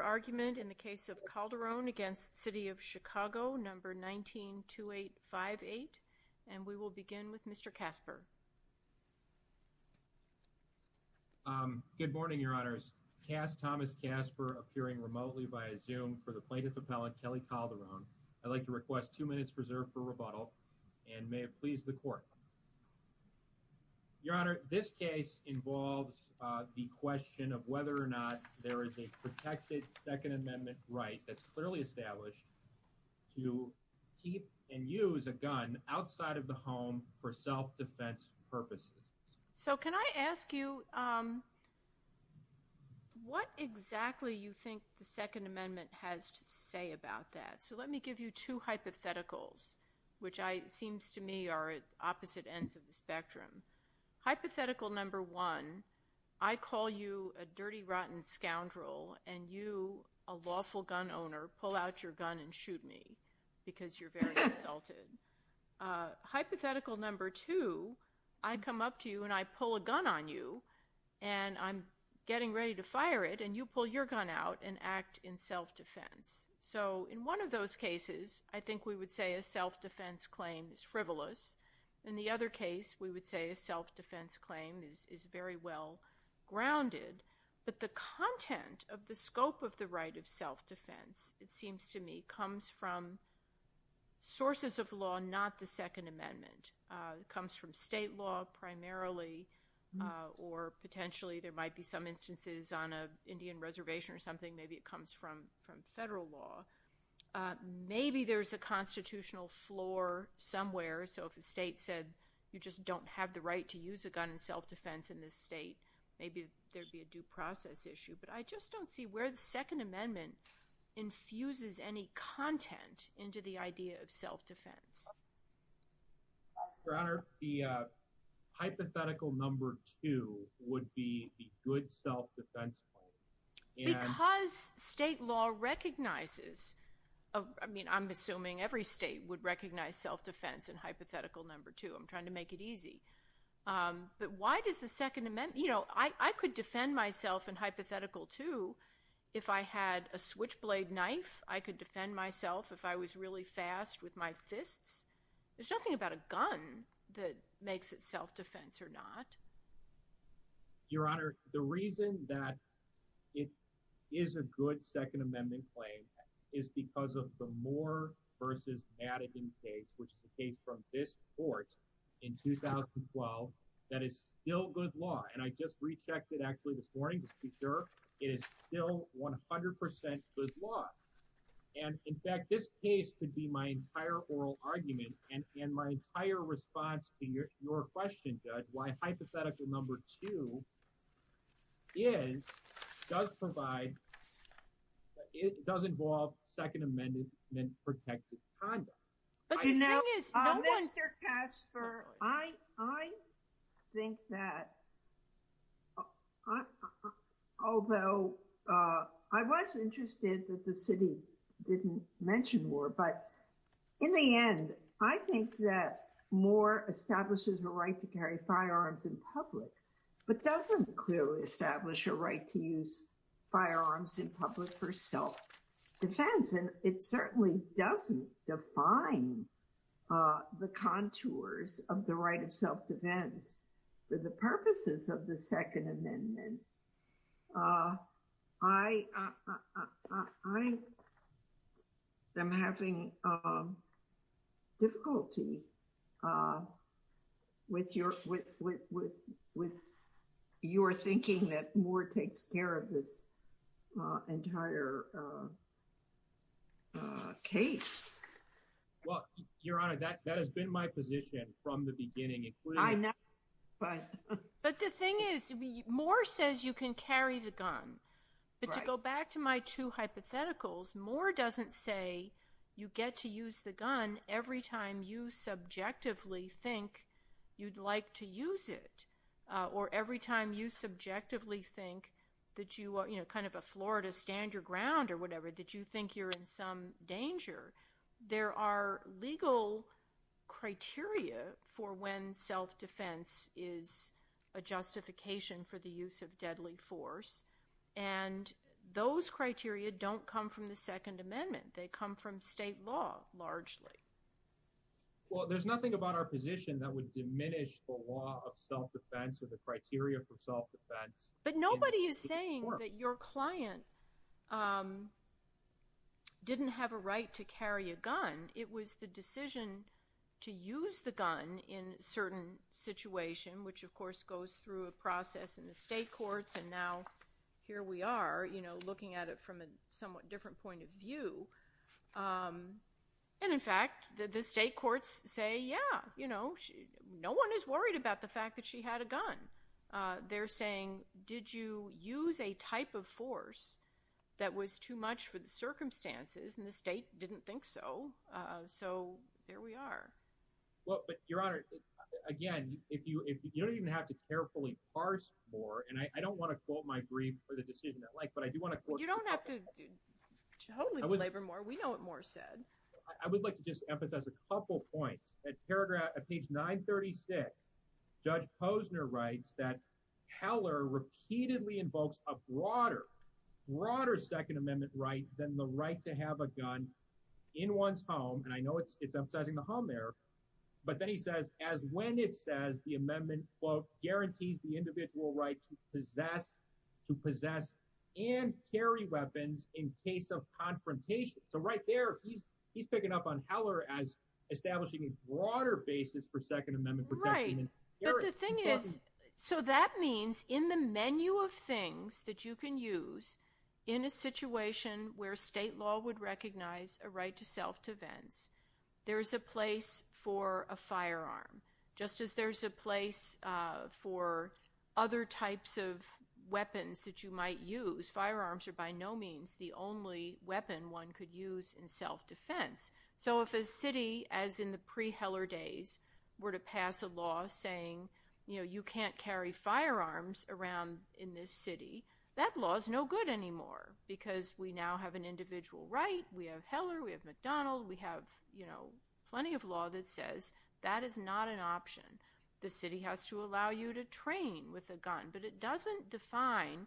argument in the case of Calderone against City of Chicago number 192858 and we will begin with Mr. Casper. Good morning, Your Honors. Cass Thomas Casper appearing remotely via Zoom for the plaintiff appellant Keli Calderone. I'd like to request two minutes reserved for rebuttal and may it please the court. Your Honor, this case involves the question of whether or not there is a protected Second Amendment right that's clearly established to keep and use a gun outside of the home for self-defense purposes. So can I ask you what exactly you think the Second Amendment has to say about that? So let me give you two hypotheticals which I seems to me are at opposite ends of the spectrum. Hypothetical number one, I call you a dirty rotten scoundrel and you a lawful gun owner pull out your gun and shoot me because you're very insulted. Hypothetical number two, I come up to you and I pull a gun on you and I'm getting ready to fire it and you pull your gun out and act in self-defense. So in one of those cases I think we would say a self-defense claim is frivolous. In the other case we would say a self-defense claim is very well grounded but the content of the scope of the right of self-defense it seems to me comes from sources of law not the Second Amendment. It comes from state law primarily or potentially there might be some instances on a Indian reservation or something maybe it comes from federal law. Maybe there's a constitutional floor somewhere so if the right to use a gun in self-defense in this state maybe there'd be a due process issue but I just don't see where the Second Amendment infuses any content into the idea of self-defense. Your Honor, the hypothetical number two would be the good self-defense claim. Because state law recognizes, I mean I'm assuming every state would recognize self-defense in hypothetical number two. I'm trying to but why does the Second Amendment, you know, I could defend myself in hypothetical two if I had a switchblade knife I could defend myself if I was really fast with my fists. There's nothing about a gun that makes it self-defense or not. Your Honor, the reason that it is a good Second Amendment claim is because of the Moore versus Madigan case which is the case from this court in 2012 that is still good law and I just rechecked it actually this morning to be sure it is still 100% good law and in fact this case could be my entire oral argument and in my entire response to your question, Judge, why hypothetical number two does it does involve Second Amendment protected conduct. Mr. Kasper, I think that although I was interested that the city didn't mention Moore but in the end I think that Moore establishes the right to carry firearms in public but doesn't clearly establish a right to use firearms in public for self-defense and it certainly doesn't define the contours of the right of self-defense for the purposes of the Second Amendment. I am having difficulty with your thinking that Moore takes care of this entire case. Well, Your Honor, that has been my position from the beginning. But the thing is, Moore says you can carry the gun but to go back to my two hypotheticals, Moore doesn't say you get to use the gun every time you subjectively think you'd like to use it or every time you subjectively think that you are, you know, kind of a floor to stand your ground or whatever, that you think you're in some danger. There are legal criteria for when self-defense is a justification for the use of deadly force and those criteria don't come from the Second Amendment. They come from state law, largely. Well, there's nothing about our position that would diminish the law of self-defense or the criteria for self-defense. But nobody is saying that your client didn't have a right to carry a gun. It was the decision to use the gun in certain situation, which of course goes through a process in the state courts and now here we are, you know, looking at it from a somewhat different point of view. And in fact, the state courts say, yeah, you know, no one is worried about the fact that she had a gun. They're saying, did you use a type of force that was too much for the circumstances? And the state didn't think so. So there we are. Well, but Your Honor, again, if you, if you don't even have to carefully parse Moore, and I don't want to quote my brief for the decision I'd like, but I do want to quote... You don't have to totally belabor Moore. We know what Moore said. I would like to just emphasize a couple points. At paragraph, at page 936, Judge Posner writes that Heller repeatedly invokes a broader, broader Second Amendment right than the right to have a gun in one's home. And I know it's emphasizing the home there, but then he says, as when it says the amendment quote, guarantees the individual right to possess, to possess and carry weapons in case of confrontation. So right there, he's, he's picking up on Heller as establishing a broader basis for Second Amendment protection. Right. But the thing is, so that means in the menu of things that you can use in a situation where state law would recognize a right to self-defense, there's a place for a firearm, just as there's a place for other types of weapons that you might use. Firearms are by no means the only weapon one could use in self-defense. So if a city, as in the pre-Heller days, were to pass a law saying, you know, you can't carry firearms around in this city, that law is no good anymore because we now have an individual right. We have Heller. We have McDonald. We have, you know, plenty of law that says that is not an option. The city has to allow you to train with a gun, but it doesn't define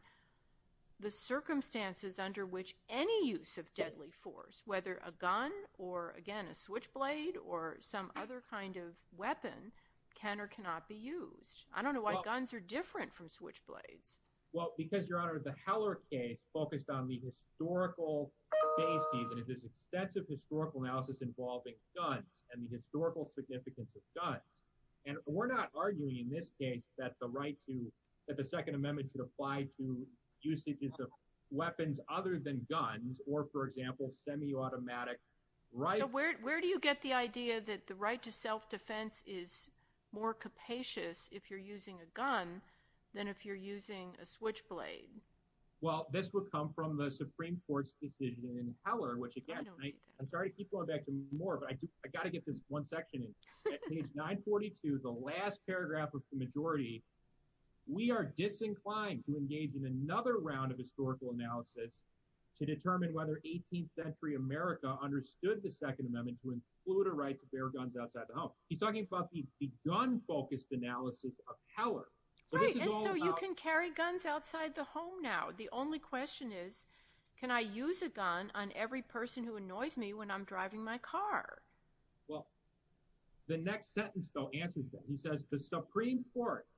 the circumstances under which any use of deadly force, whether a gun or, again, a switchblade or some other kind of weapon, can or cannot be used. I don't know why guns are different from switchblades. Well, because, Your Honor, the Heller case focused on the historical basis and it is extensive historical analysis involving guns and the historical significance of guns. And we're not arguing in this case that the right to, that the Second Amendment should apply to usages of weapons other than guns or, for example, semi-automatic rifles. So where do you get the idea that the right to self-defense is more capacious if you're using a gun than if you're using a switchblade? Well, this would come from the Supreme Court's decision in Heller, which, again, I'm sorry to keep going back to Moore, but I got to get this one We are disinclined to engage in another round of historical analysis to determine whether 18th century America understood the Second Amendment to include a right to bear guns outside the home. He's talking about the gun-focused analysis of Heller. Right, and so you can carry guns outside the home now. The only question is, can I use a gun on every person who annoys me when I'm driving my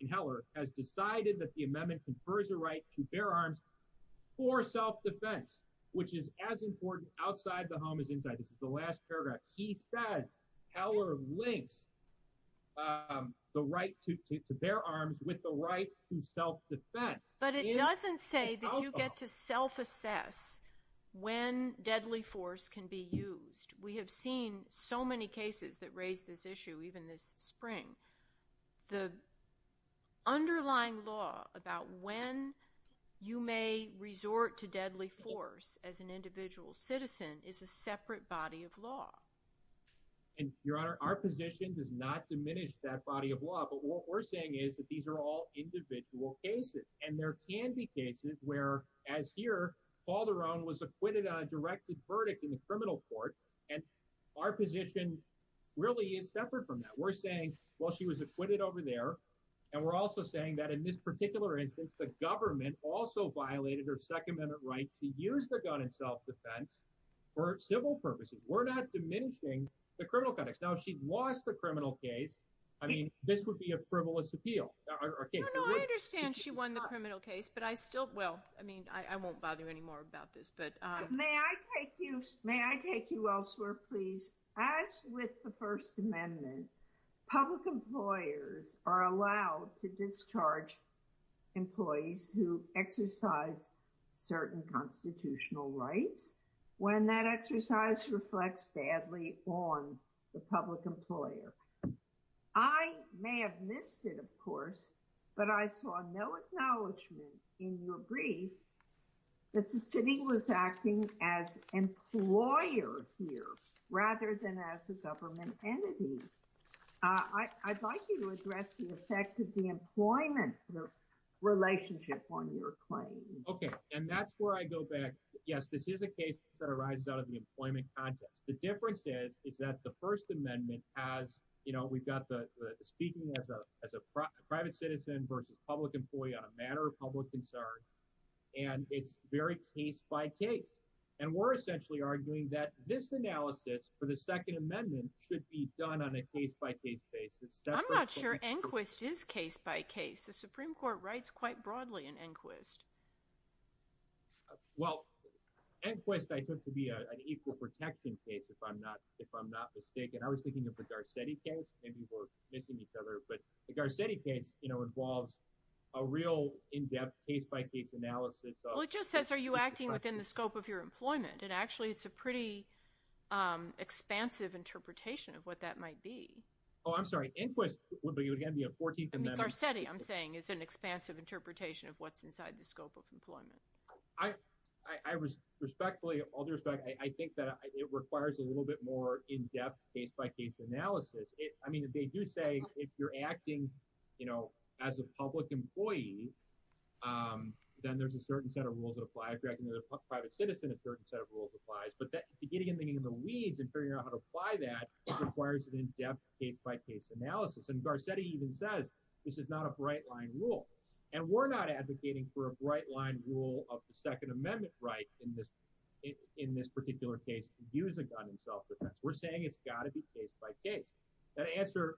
in Heller has decided that the amendment confers a right to bear arms for self-defense, which is as important outside the home as inside. This is the last paragraph. He says Heller links the right to bear arms with the right to self-defense. But it doesn't say that you get to self-assess when deadly force can be used. We have seen so many cases that raise this issue, even this spring. The underlying law about when you may resort to deadly force as an individual citizen is a separate body of law. And, Your Honor, our position does not diminish that body of law, but what we're saying is that these are all individual cases, and there can be cases where, as here, Calderon was acquitted on a directed verdict in the criminal court, and our position really is separate from that. We're saying, well, she was acquitted over there, and we're also saying that in this particular instance, the government also violated her Second Amendment right to use the gun in self-defense for civil purposes. We're not diminishing the criminal context. Now, if she'd lost the criminal case, I mean, this would be a frivolous appeal. I understand she won the criminal case, but I still will. I mean, I won't bother you anymore about this, but may I take you elsewhere, please? As with the First Amendment, public employers are allowed to discharge employees who exercise certain constitutional rights when that exercise reflects badly on the public employer. I may have missed it, of course, but I saw no acknowledgement in your brief that the city was acting as employer here rather than as a government entity. I'd like you to address the effect of the employment relationship on your claim. Okay, and that's where I go back. Yes, this is a case that arises out of the employment context. The difference is, is that the First Amendment has, you know, we've got the speaking as a private citizen versus public employee on a matter of public concern, and it's very case-by-case, and we're essentially arguing that this analysis for the Second Amendment should be done on a case-by-case basis. I'm not sure Enquist is case-by-case. The Supreme Court writes quite broadly in Enquist. Well, Enquist I took to be an equal protection case, if I'm not mistaken. I was thinking of the Garcetti case. Maybe we're missing each other, but the Garcetti case, you know, involves a real in-depth case-by-case analysis. Well, it just says, are you acting within the scope of your employment? And actually, it's a pretty expansive interpretation of what that might be. Oh, I'm sorry. Enquist would be, again, be a 14th Amendment. I mean, Garcetti, I'm saying, is an expansive interpretation of what's inside the scope of employment. I respectfully, all due respect, I think that it requires a I mean, they do say if you're acting, you know, as a public employee, then there's a certain set of rules that apply. If you're acting as a private citizen, a certain set of rules applies, but to get anything in the weeds and figure out how to apply that requires an in-depth case-by-case analysis, and Garcetti even says this is not a bright-line rule, and we're not advocating for a bright-line rule of the Second Amendment right in this particular case to use a gun in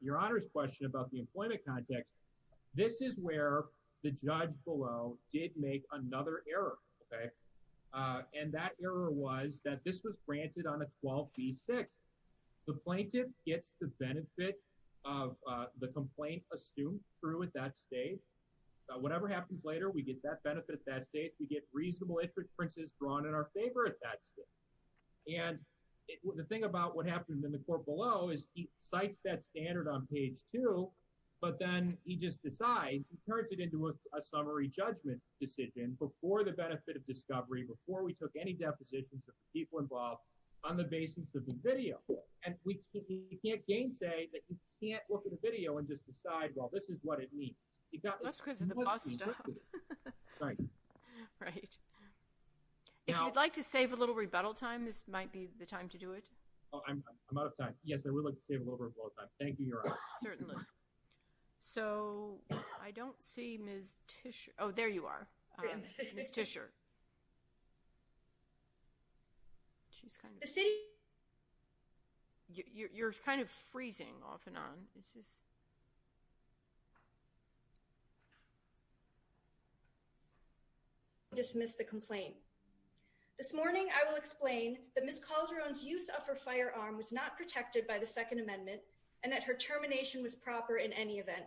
your Honor's question about the employment context, this is where the judge below did make another error, okay, and that error was that this was granted on a 12b6. The plaintiff gets the benefit of the complaint assumed true at that stage. Whatever happens later, we get that benefit at that stage. We get reasonable inferences drawn in our favor at that stage, and the thing about what that standard on page two, but then he just decides, he turns it into a summary judgment decision before the benefit of discovery, before we took any depositions of people involved on the basis of the video, and we can't gainsay that you can't look at a video and just decide, well, this is what it means. That's because of the bus stop. Right. If you'd like to save a little rebuttal time, this might be the time to do it. Oh, I'm out of time. Yes, I would like to save a little rebuttal time. Thank you, Your Honor. Certainly. So, I don't see Ms. Tischer. Oh, there you are. Ms. Tischer. The city? You're kind of freezing off and on. This is. Dismiss the complaint. This morning, I will explain that Ms. Calderon's use of her firearm was not protected by the Second Amendment and that her termination was proper in any event.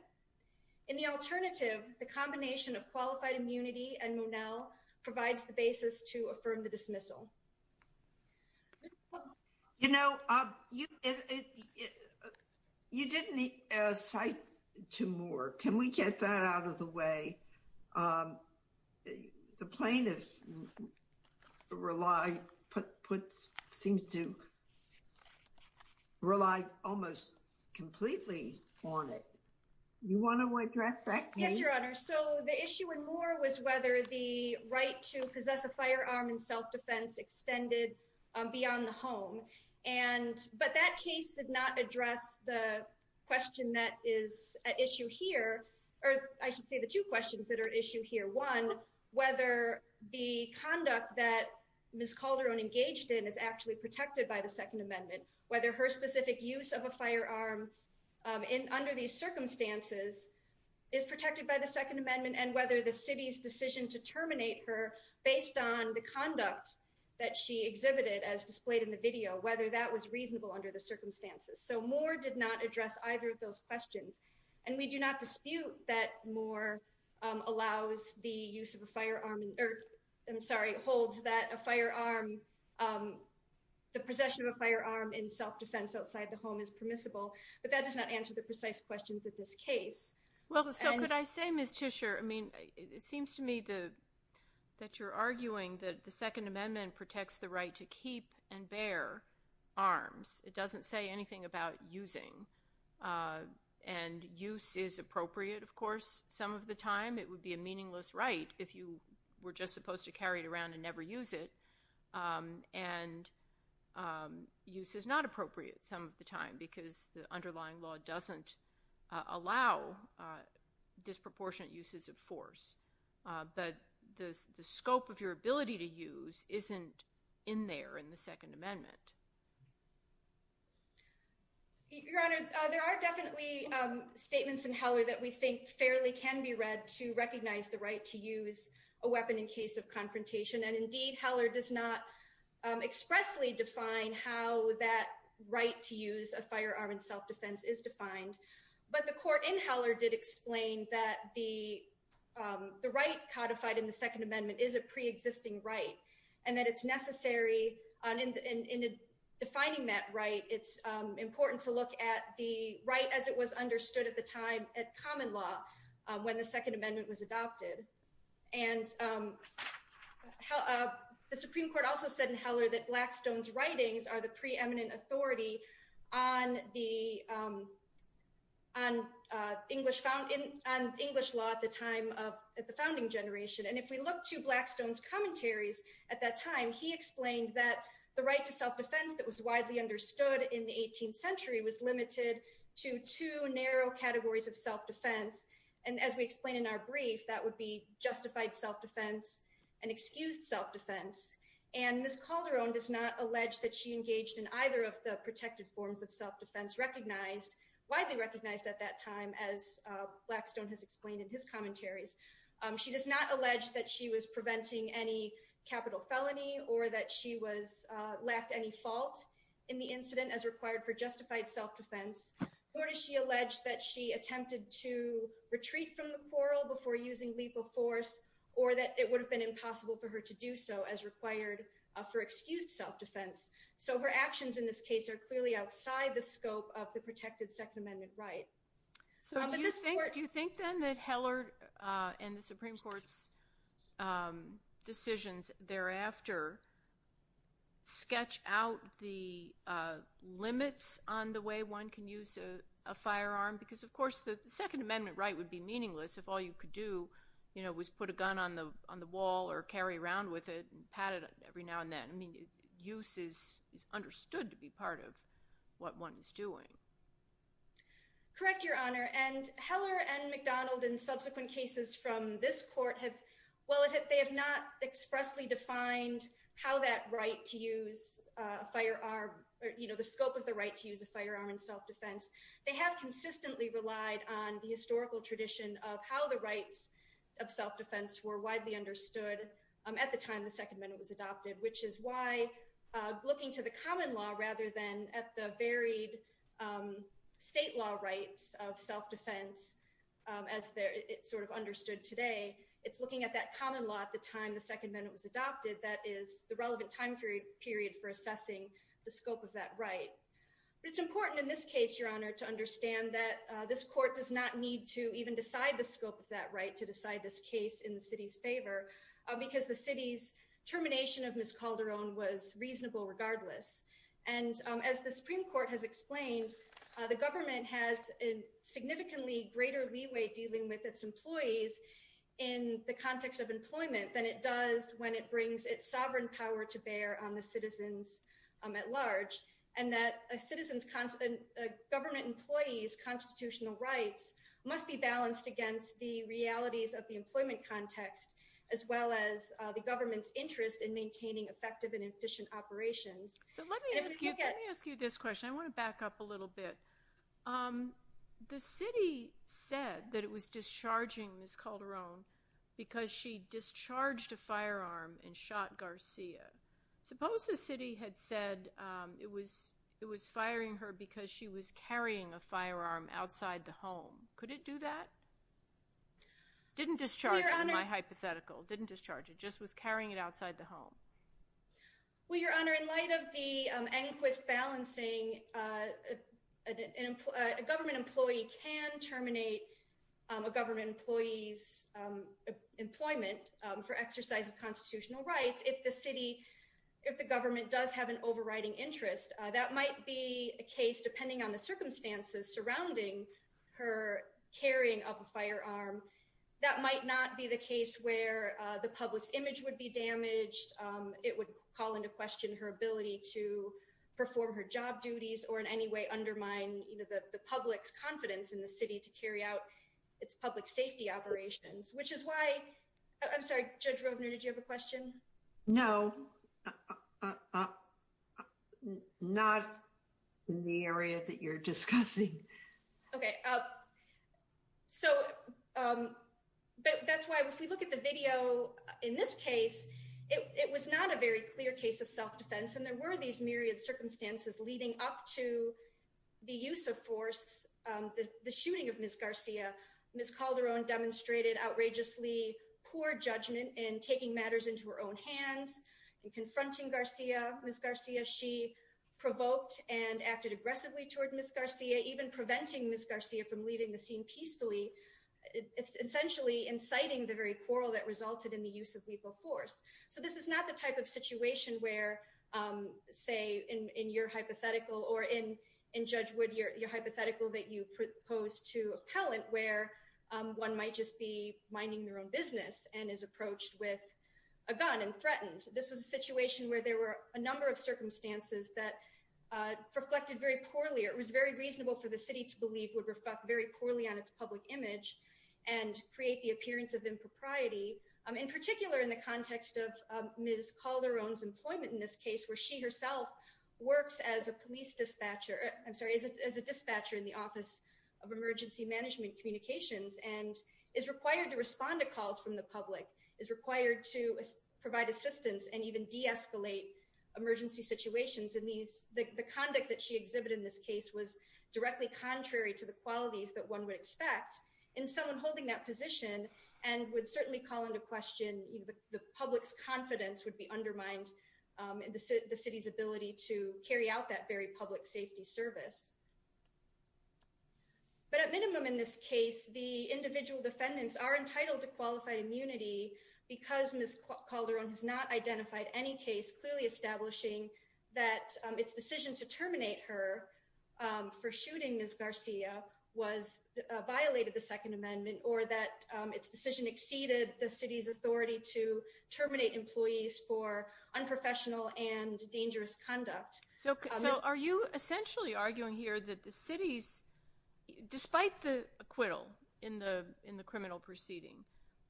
In the alternative, the combination of qualified immunity and Monell provides the basis to affirm the dismissal. You know, you didn't cite to Moore. Can we get that out of the way? The plaintiff relies, seems to rely almost completely on it. You want to address that? Yes, Your Honor. So, the issue with Moore was whether the right to possess a firearm and self-defense extended beyond the home. And, but that case did not address the question that is at issue here. I should say the two questions that are issue here. One, whether the conduct that Ms. Calderon engaged in is actually protected by the Second Amendment. Whether her specific use of a firearm in under these circumstances is protected by the Second Amendment and whether the city's decision to terminate her based on the conduct that she exhibited as displayed in the video, whether that was reasonable under the circumstances. So, Moore did not address either of those questions and we do not dispute that Moore allows the use of a firearm. I'm sorry, holds that a firearm, the possession of a firearm in self-defense outside the home is permissible, but that does not answer the precise questions of this case. Well, so could I say, Ms. Tischer, I mean, it seems to me that you're arguing that the Second Amendment protects the right to keep and bear arms. It doesn't say anything about using and use is appropriate, of course, some of the time. It would be a meaningless right if you were just supposed to carry it around and never use it. And use is not appropriate some of the time because the underlying law doesn't allow disproportionate uses of force. But the scope of your ability to use isn't in there in the Second Amendment. Your Honor, there are definitely statements in Heller that we think fairly can be read to recognize the right to use a weapon in case of confrontation. And indeed, Heller does not expressly define how that right to use a firearm in self-defense is defined. But the court in Heller did explain that the right codified in the Second Amendment is a pre-existing right and that it's necessary in defining that right. It's important to look at the right as it was understood at the time at common law when the Second Amendment was adopted. And the Supreme Court also said in Heller that Blackstone's writings are the preeminent authority on English law at the time of the founding generation. And if we look to Blackstone's commentaries at that time, he explained that the right to self-defense that was widely understood in the 18th century was limited to two narrow categories of self-defense. And as we explained in our brief, that would be justified self-defense and excused self-defense. And Ms. Calderon does not allege that she engaged in either of the protected forms of self-defense recognized, widely recognized at that time, as Blackstone has explained in his commentaries. She does not allege that she was preventing any capital felony or that she lacked any fault in the incident as required for justified self-defense. Nor does she allege that she attempted to retreat from the quarrel before using lethal force or that it would have been impossible for her to do so as required for excused self-defense. So her actions in this case are clearly outside the scope of the protected Second Amendment right. So do you think then that Heller and the Supreme Court's decisions thereafter sketch out the limits on the way one can use a firearm? Because of course the Second Amendment right would be meaningless if all you could do was put a gun on the wall or carry around with it and pat it every now and then. I mean, use is understood to be part of what one is doing. Correct, Your Honor. And Heller and McDonald in subsequent cases from this court have, well, they have not expressly defined how that right to use a firearm, you know, the scope of the right to use a firearm in self-defense. They have consistently relied on the historical tradition of how the rights of self-defense were widely understood at the time the Second Amendment was adopted, which is why looking to the common law rather than at the varied state law rights of self-defense as it's sort of understood today, it's looking at that common law at the time the Second Amendment was adopted that is the relevant time period for assessing the scope of that right. But it's important in this case, Your Honor, to understand that this court does not need to even decide the scope of that right to decide this case in the city's favor because the city's termination of Ms. Calderon was reasonable regardless. And as the Supreme Court has explained, the government has a significantly greater leeway dealing with its employees in the context of employment than it does when it brings its sovereign power to bear on the citizens at large, and that a government employee's constitutional rights must be balanced against the realities of the employment context, as well as the government's interest in maintaining effective and efficient operations. So let me ask you this question. I want to back up a little bit. The city said that it was discharging Ms. Calderon because she discharged a firearm and shot Garcia. Suppose the city had said it was firing her because she was carrying a firearm outside the home. Could it do that? Didn't discharge it in my hypothetical. Didn't discharge it. Just was carrying it outside the home. Well, Your Honor, in light of the ANQUIST balancing, a government employee can terminate a government employee's employment for exercise of constitutional rights if the government does have an overriding interest. That might be a case, depending on the circumstances surrounding her carrying of a firearm. That might not be the case where the public's image would be damaged. It would call into question her ability to perform her job duties or in any way undermine the public's confidence in the city to carry out its public safety operations, which is why I'm sorry, Judge Rovner, did you have a question? No, not in the area that you're discussing. Okay. So that's why if we look at the video in this case, it was not a very clear case of self-defense. And there were these myriad circumstances leading up to the use of force, the shooting of Ms. Garcia. Ms. Calderon demonstrated outrageously poor judgment in taking matters into her own hands and confronting Ms. Garcia. She provoked and acted aggressively toward Ms. Garcia, even preventing Ms. Garcia from leaving the scene peacefully, essentially inciting the very quarrel that resulted in the use of lethal force. So this is not the type of situation where, say, in your hypothetical or in Judge Wood, your hypothetical that you proposed to appellant where one might just be minding their own business and is approached with a gun and threatened. This was a situation where there were a number of circumstances that reflected very poorly. It was very reasonable for the city to believe would reflect very poorly on its public image and create the appearance of impropriety, in particular in the context of Ms. Calderon's employment in this case where she herself works as a police dispatcher. I'm sorry, as a dispatcher in the Office of Emergency Management Communications and is required to respond to calls from the public, is required to provide assistance and even de-escalate emergency situations. The conduct that she exhibited in this case was directly contrary to the qualities that one would expect in someone holding that position and would certainly call into question the public's confidence would be undermined in the city's ability to carry out that very public safety service. But at minimum in this case, the individual defendants are entitled to qualified immunity because Ms. Calderon has not identified any case clearly establishing that its decision to terminate her for shooting Ms. Garcia violated the Second Amendment or that its decision exceeded the city's authority to terminate employees for unprofessional and dangerous conduct. So are you essentially arguing here that the city's, despite the acquittal in the criminal proceeding,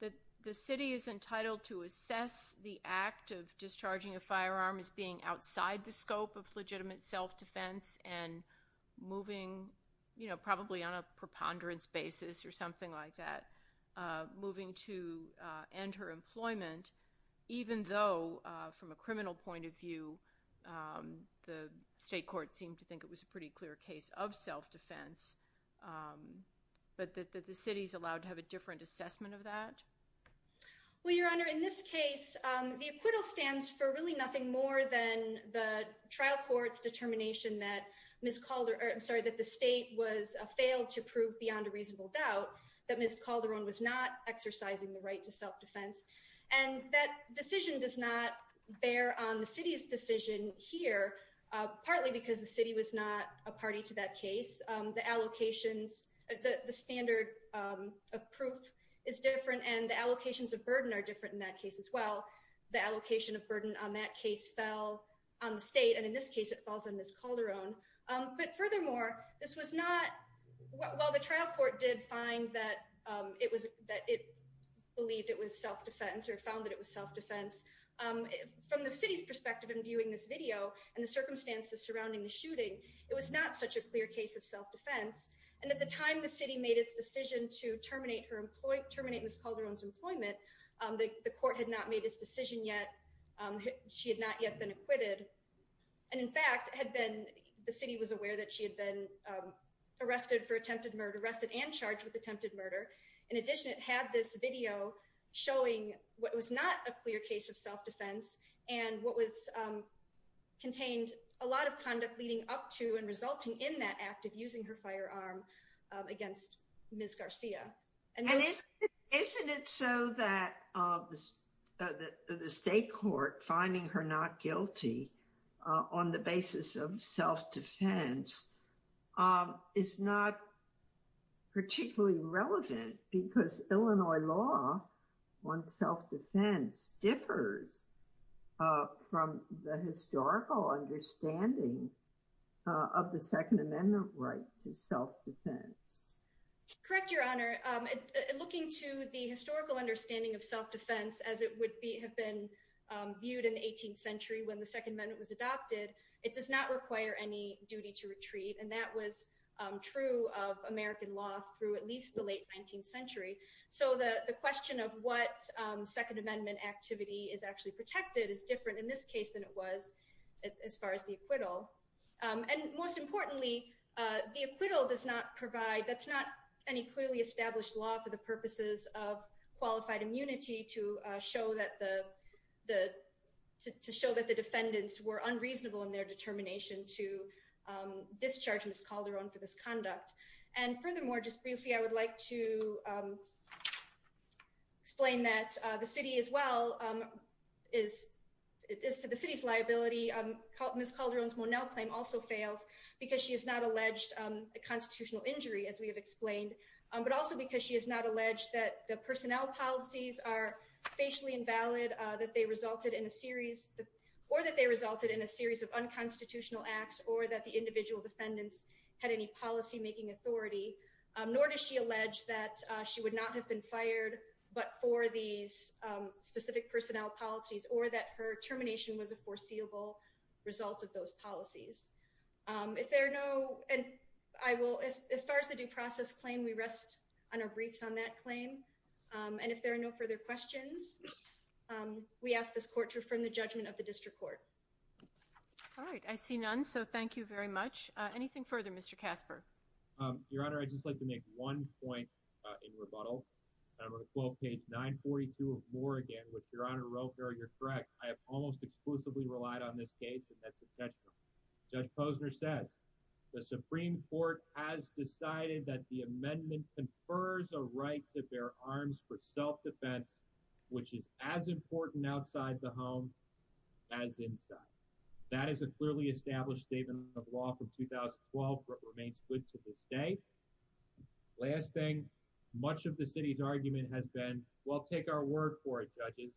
that the city is entitled to assess the act of discharging a firearm as being outside the scope of legitimate self-defense and moving, you know, probably on a preponderance basis or something like that, moving to end her employment, even though from a criminal point of view, the state court seemed to think it was a pretty clear case of self-defense, but that the city's allowed to have a different assessment of that? Well, Your Honor, in this case, the acquittal stands for really nothing more than the trial court's determination that Ms. Calderon, I'm sorry, that the state was failed to prove beyond a reasonable doubt that Ms. Calderon was not exercising the right to self-defense. And that decision does not bear on the city's decision here, partly because the city was not a party to that case. The allocations, the standard of proof is different and the allocations of burden are different in that case as well. The allocation of burden on that case fell on the state, and in this case, it falls on Ms. Calderon. But furthermore, this was not, while the trial court did find that it was, that it believed it was self-defense or found that it was self-defense, from the city's perspective in viewing this video and the circumstances surrounding the shooting, it was not such a clear case of self-defense. And at the time the city made its decision to terminate Ms. Calderon's employment, the court had not made its decision yet. She had not yet been acquitted. And in fact, had been, the city was aware that she had been arrested for attempted murder, arrested and charged with attempted murder. In addition, it had this video showing what was not a clear case of self-defense and what contained a lot of conduct leading up to and resulting in that act of using her firearm against Ms. Garcia. Isn't it so that the state court finding her not guilty on the basis of self-defense is not particularly relevant because Illinois law on self-defense differs from the historical understanding of the Second Amendment right to self-defense? Correct, Your Honor. Looking to the historical understanding of self-defense as it would have been viewed in the 18th century when the Second Amendment was adopted, it does not require any duty to retreat. And that was true of American law through at least the late 19th century. So the question of what Second Amendment activity is actually protected is different in this case than it was as far as the acquittal. And most importantly, the acquittal does not provide, that's not any clearly established law for the purposes of qualified immunity to show that the defendants were unreasonable in their determination to discharge Ms. Calderon for this conduct. And furthermore, just briefly, I would like to explain that the city as well is to the city's liability, Ms. Calderon's Monell claim also fails because she has not alleged a constitutional injury as we have explained. But also because she has not alleged that the personnel policies are facially invalid, that they resulted in a series or that they resulted in a series of unconstitutional acts or that the individual defendants had any policymaking authority. Nor does she allege that she would not have been fired, but for these specific personnel policies or that her termination was a foreseeable result of those policies. If there are no, and I will, as far as the due process claim, we rest on our briefs on that claim. And if there are no further questions, we ask this court to affirm the judgment of the district court. All right. I see none. So thank you very much. Anything further, Mr. Casper? Your Honor, I'd just like to make one point in rebuttal. I'm going to quote page 942 of Moore again, which Your Honor Roper, you're correct. I have almost exclusively relied on this case, and that's intentional. Judge Posner says, the Supreme Court has decided that the amendment confers a right to bear arms for self-defense, which is as important outside the home as inside. That is a clearly established statement of law from 2012, but remains good to this day. Last thing, much of the city's argument has been, well, take our word for it, judges.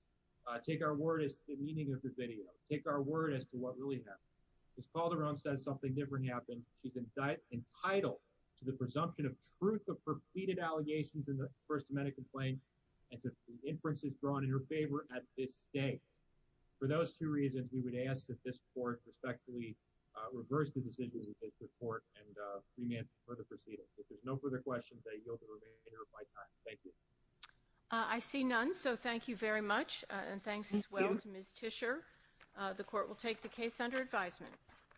Take our word as to the meaning of the video. Take our word as to what really happened. Ms. Calderon says something different happened. She's entitled to the presumption of truth of completed allegations in the First Amendment complaint and to inferences drawn in her favor at this date. For those two reasons, we would ask that this Court respectfully reverse the decision in this report and preempt further proceedings. If there's no further questions, I yield the remainder of my time. Thank you. I see none, so thank you very much, and thanks as well to Ms. Tischer. The Court will take the case under advisement.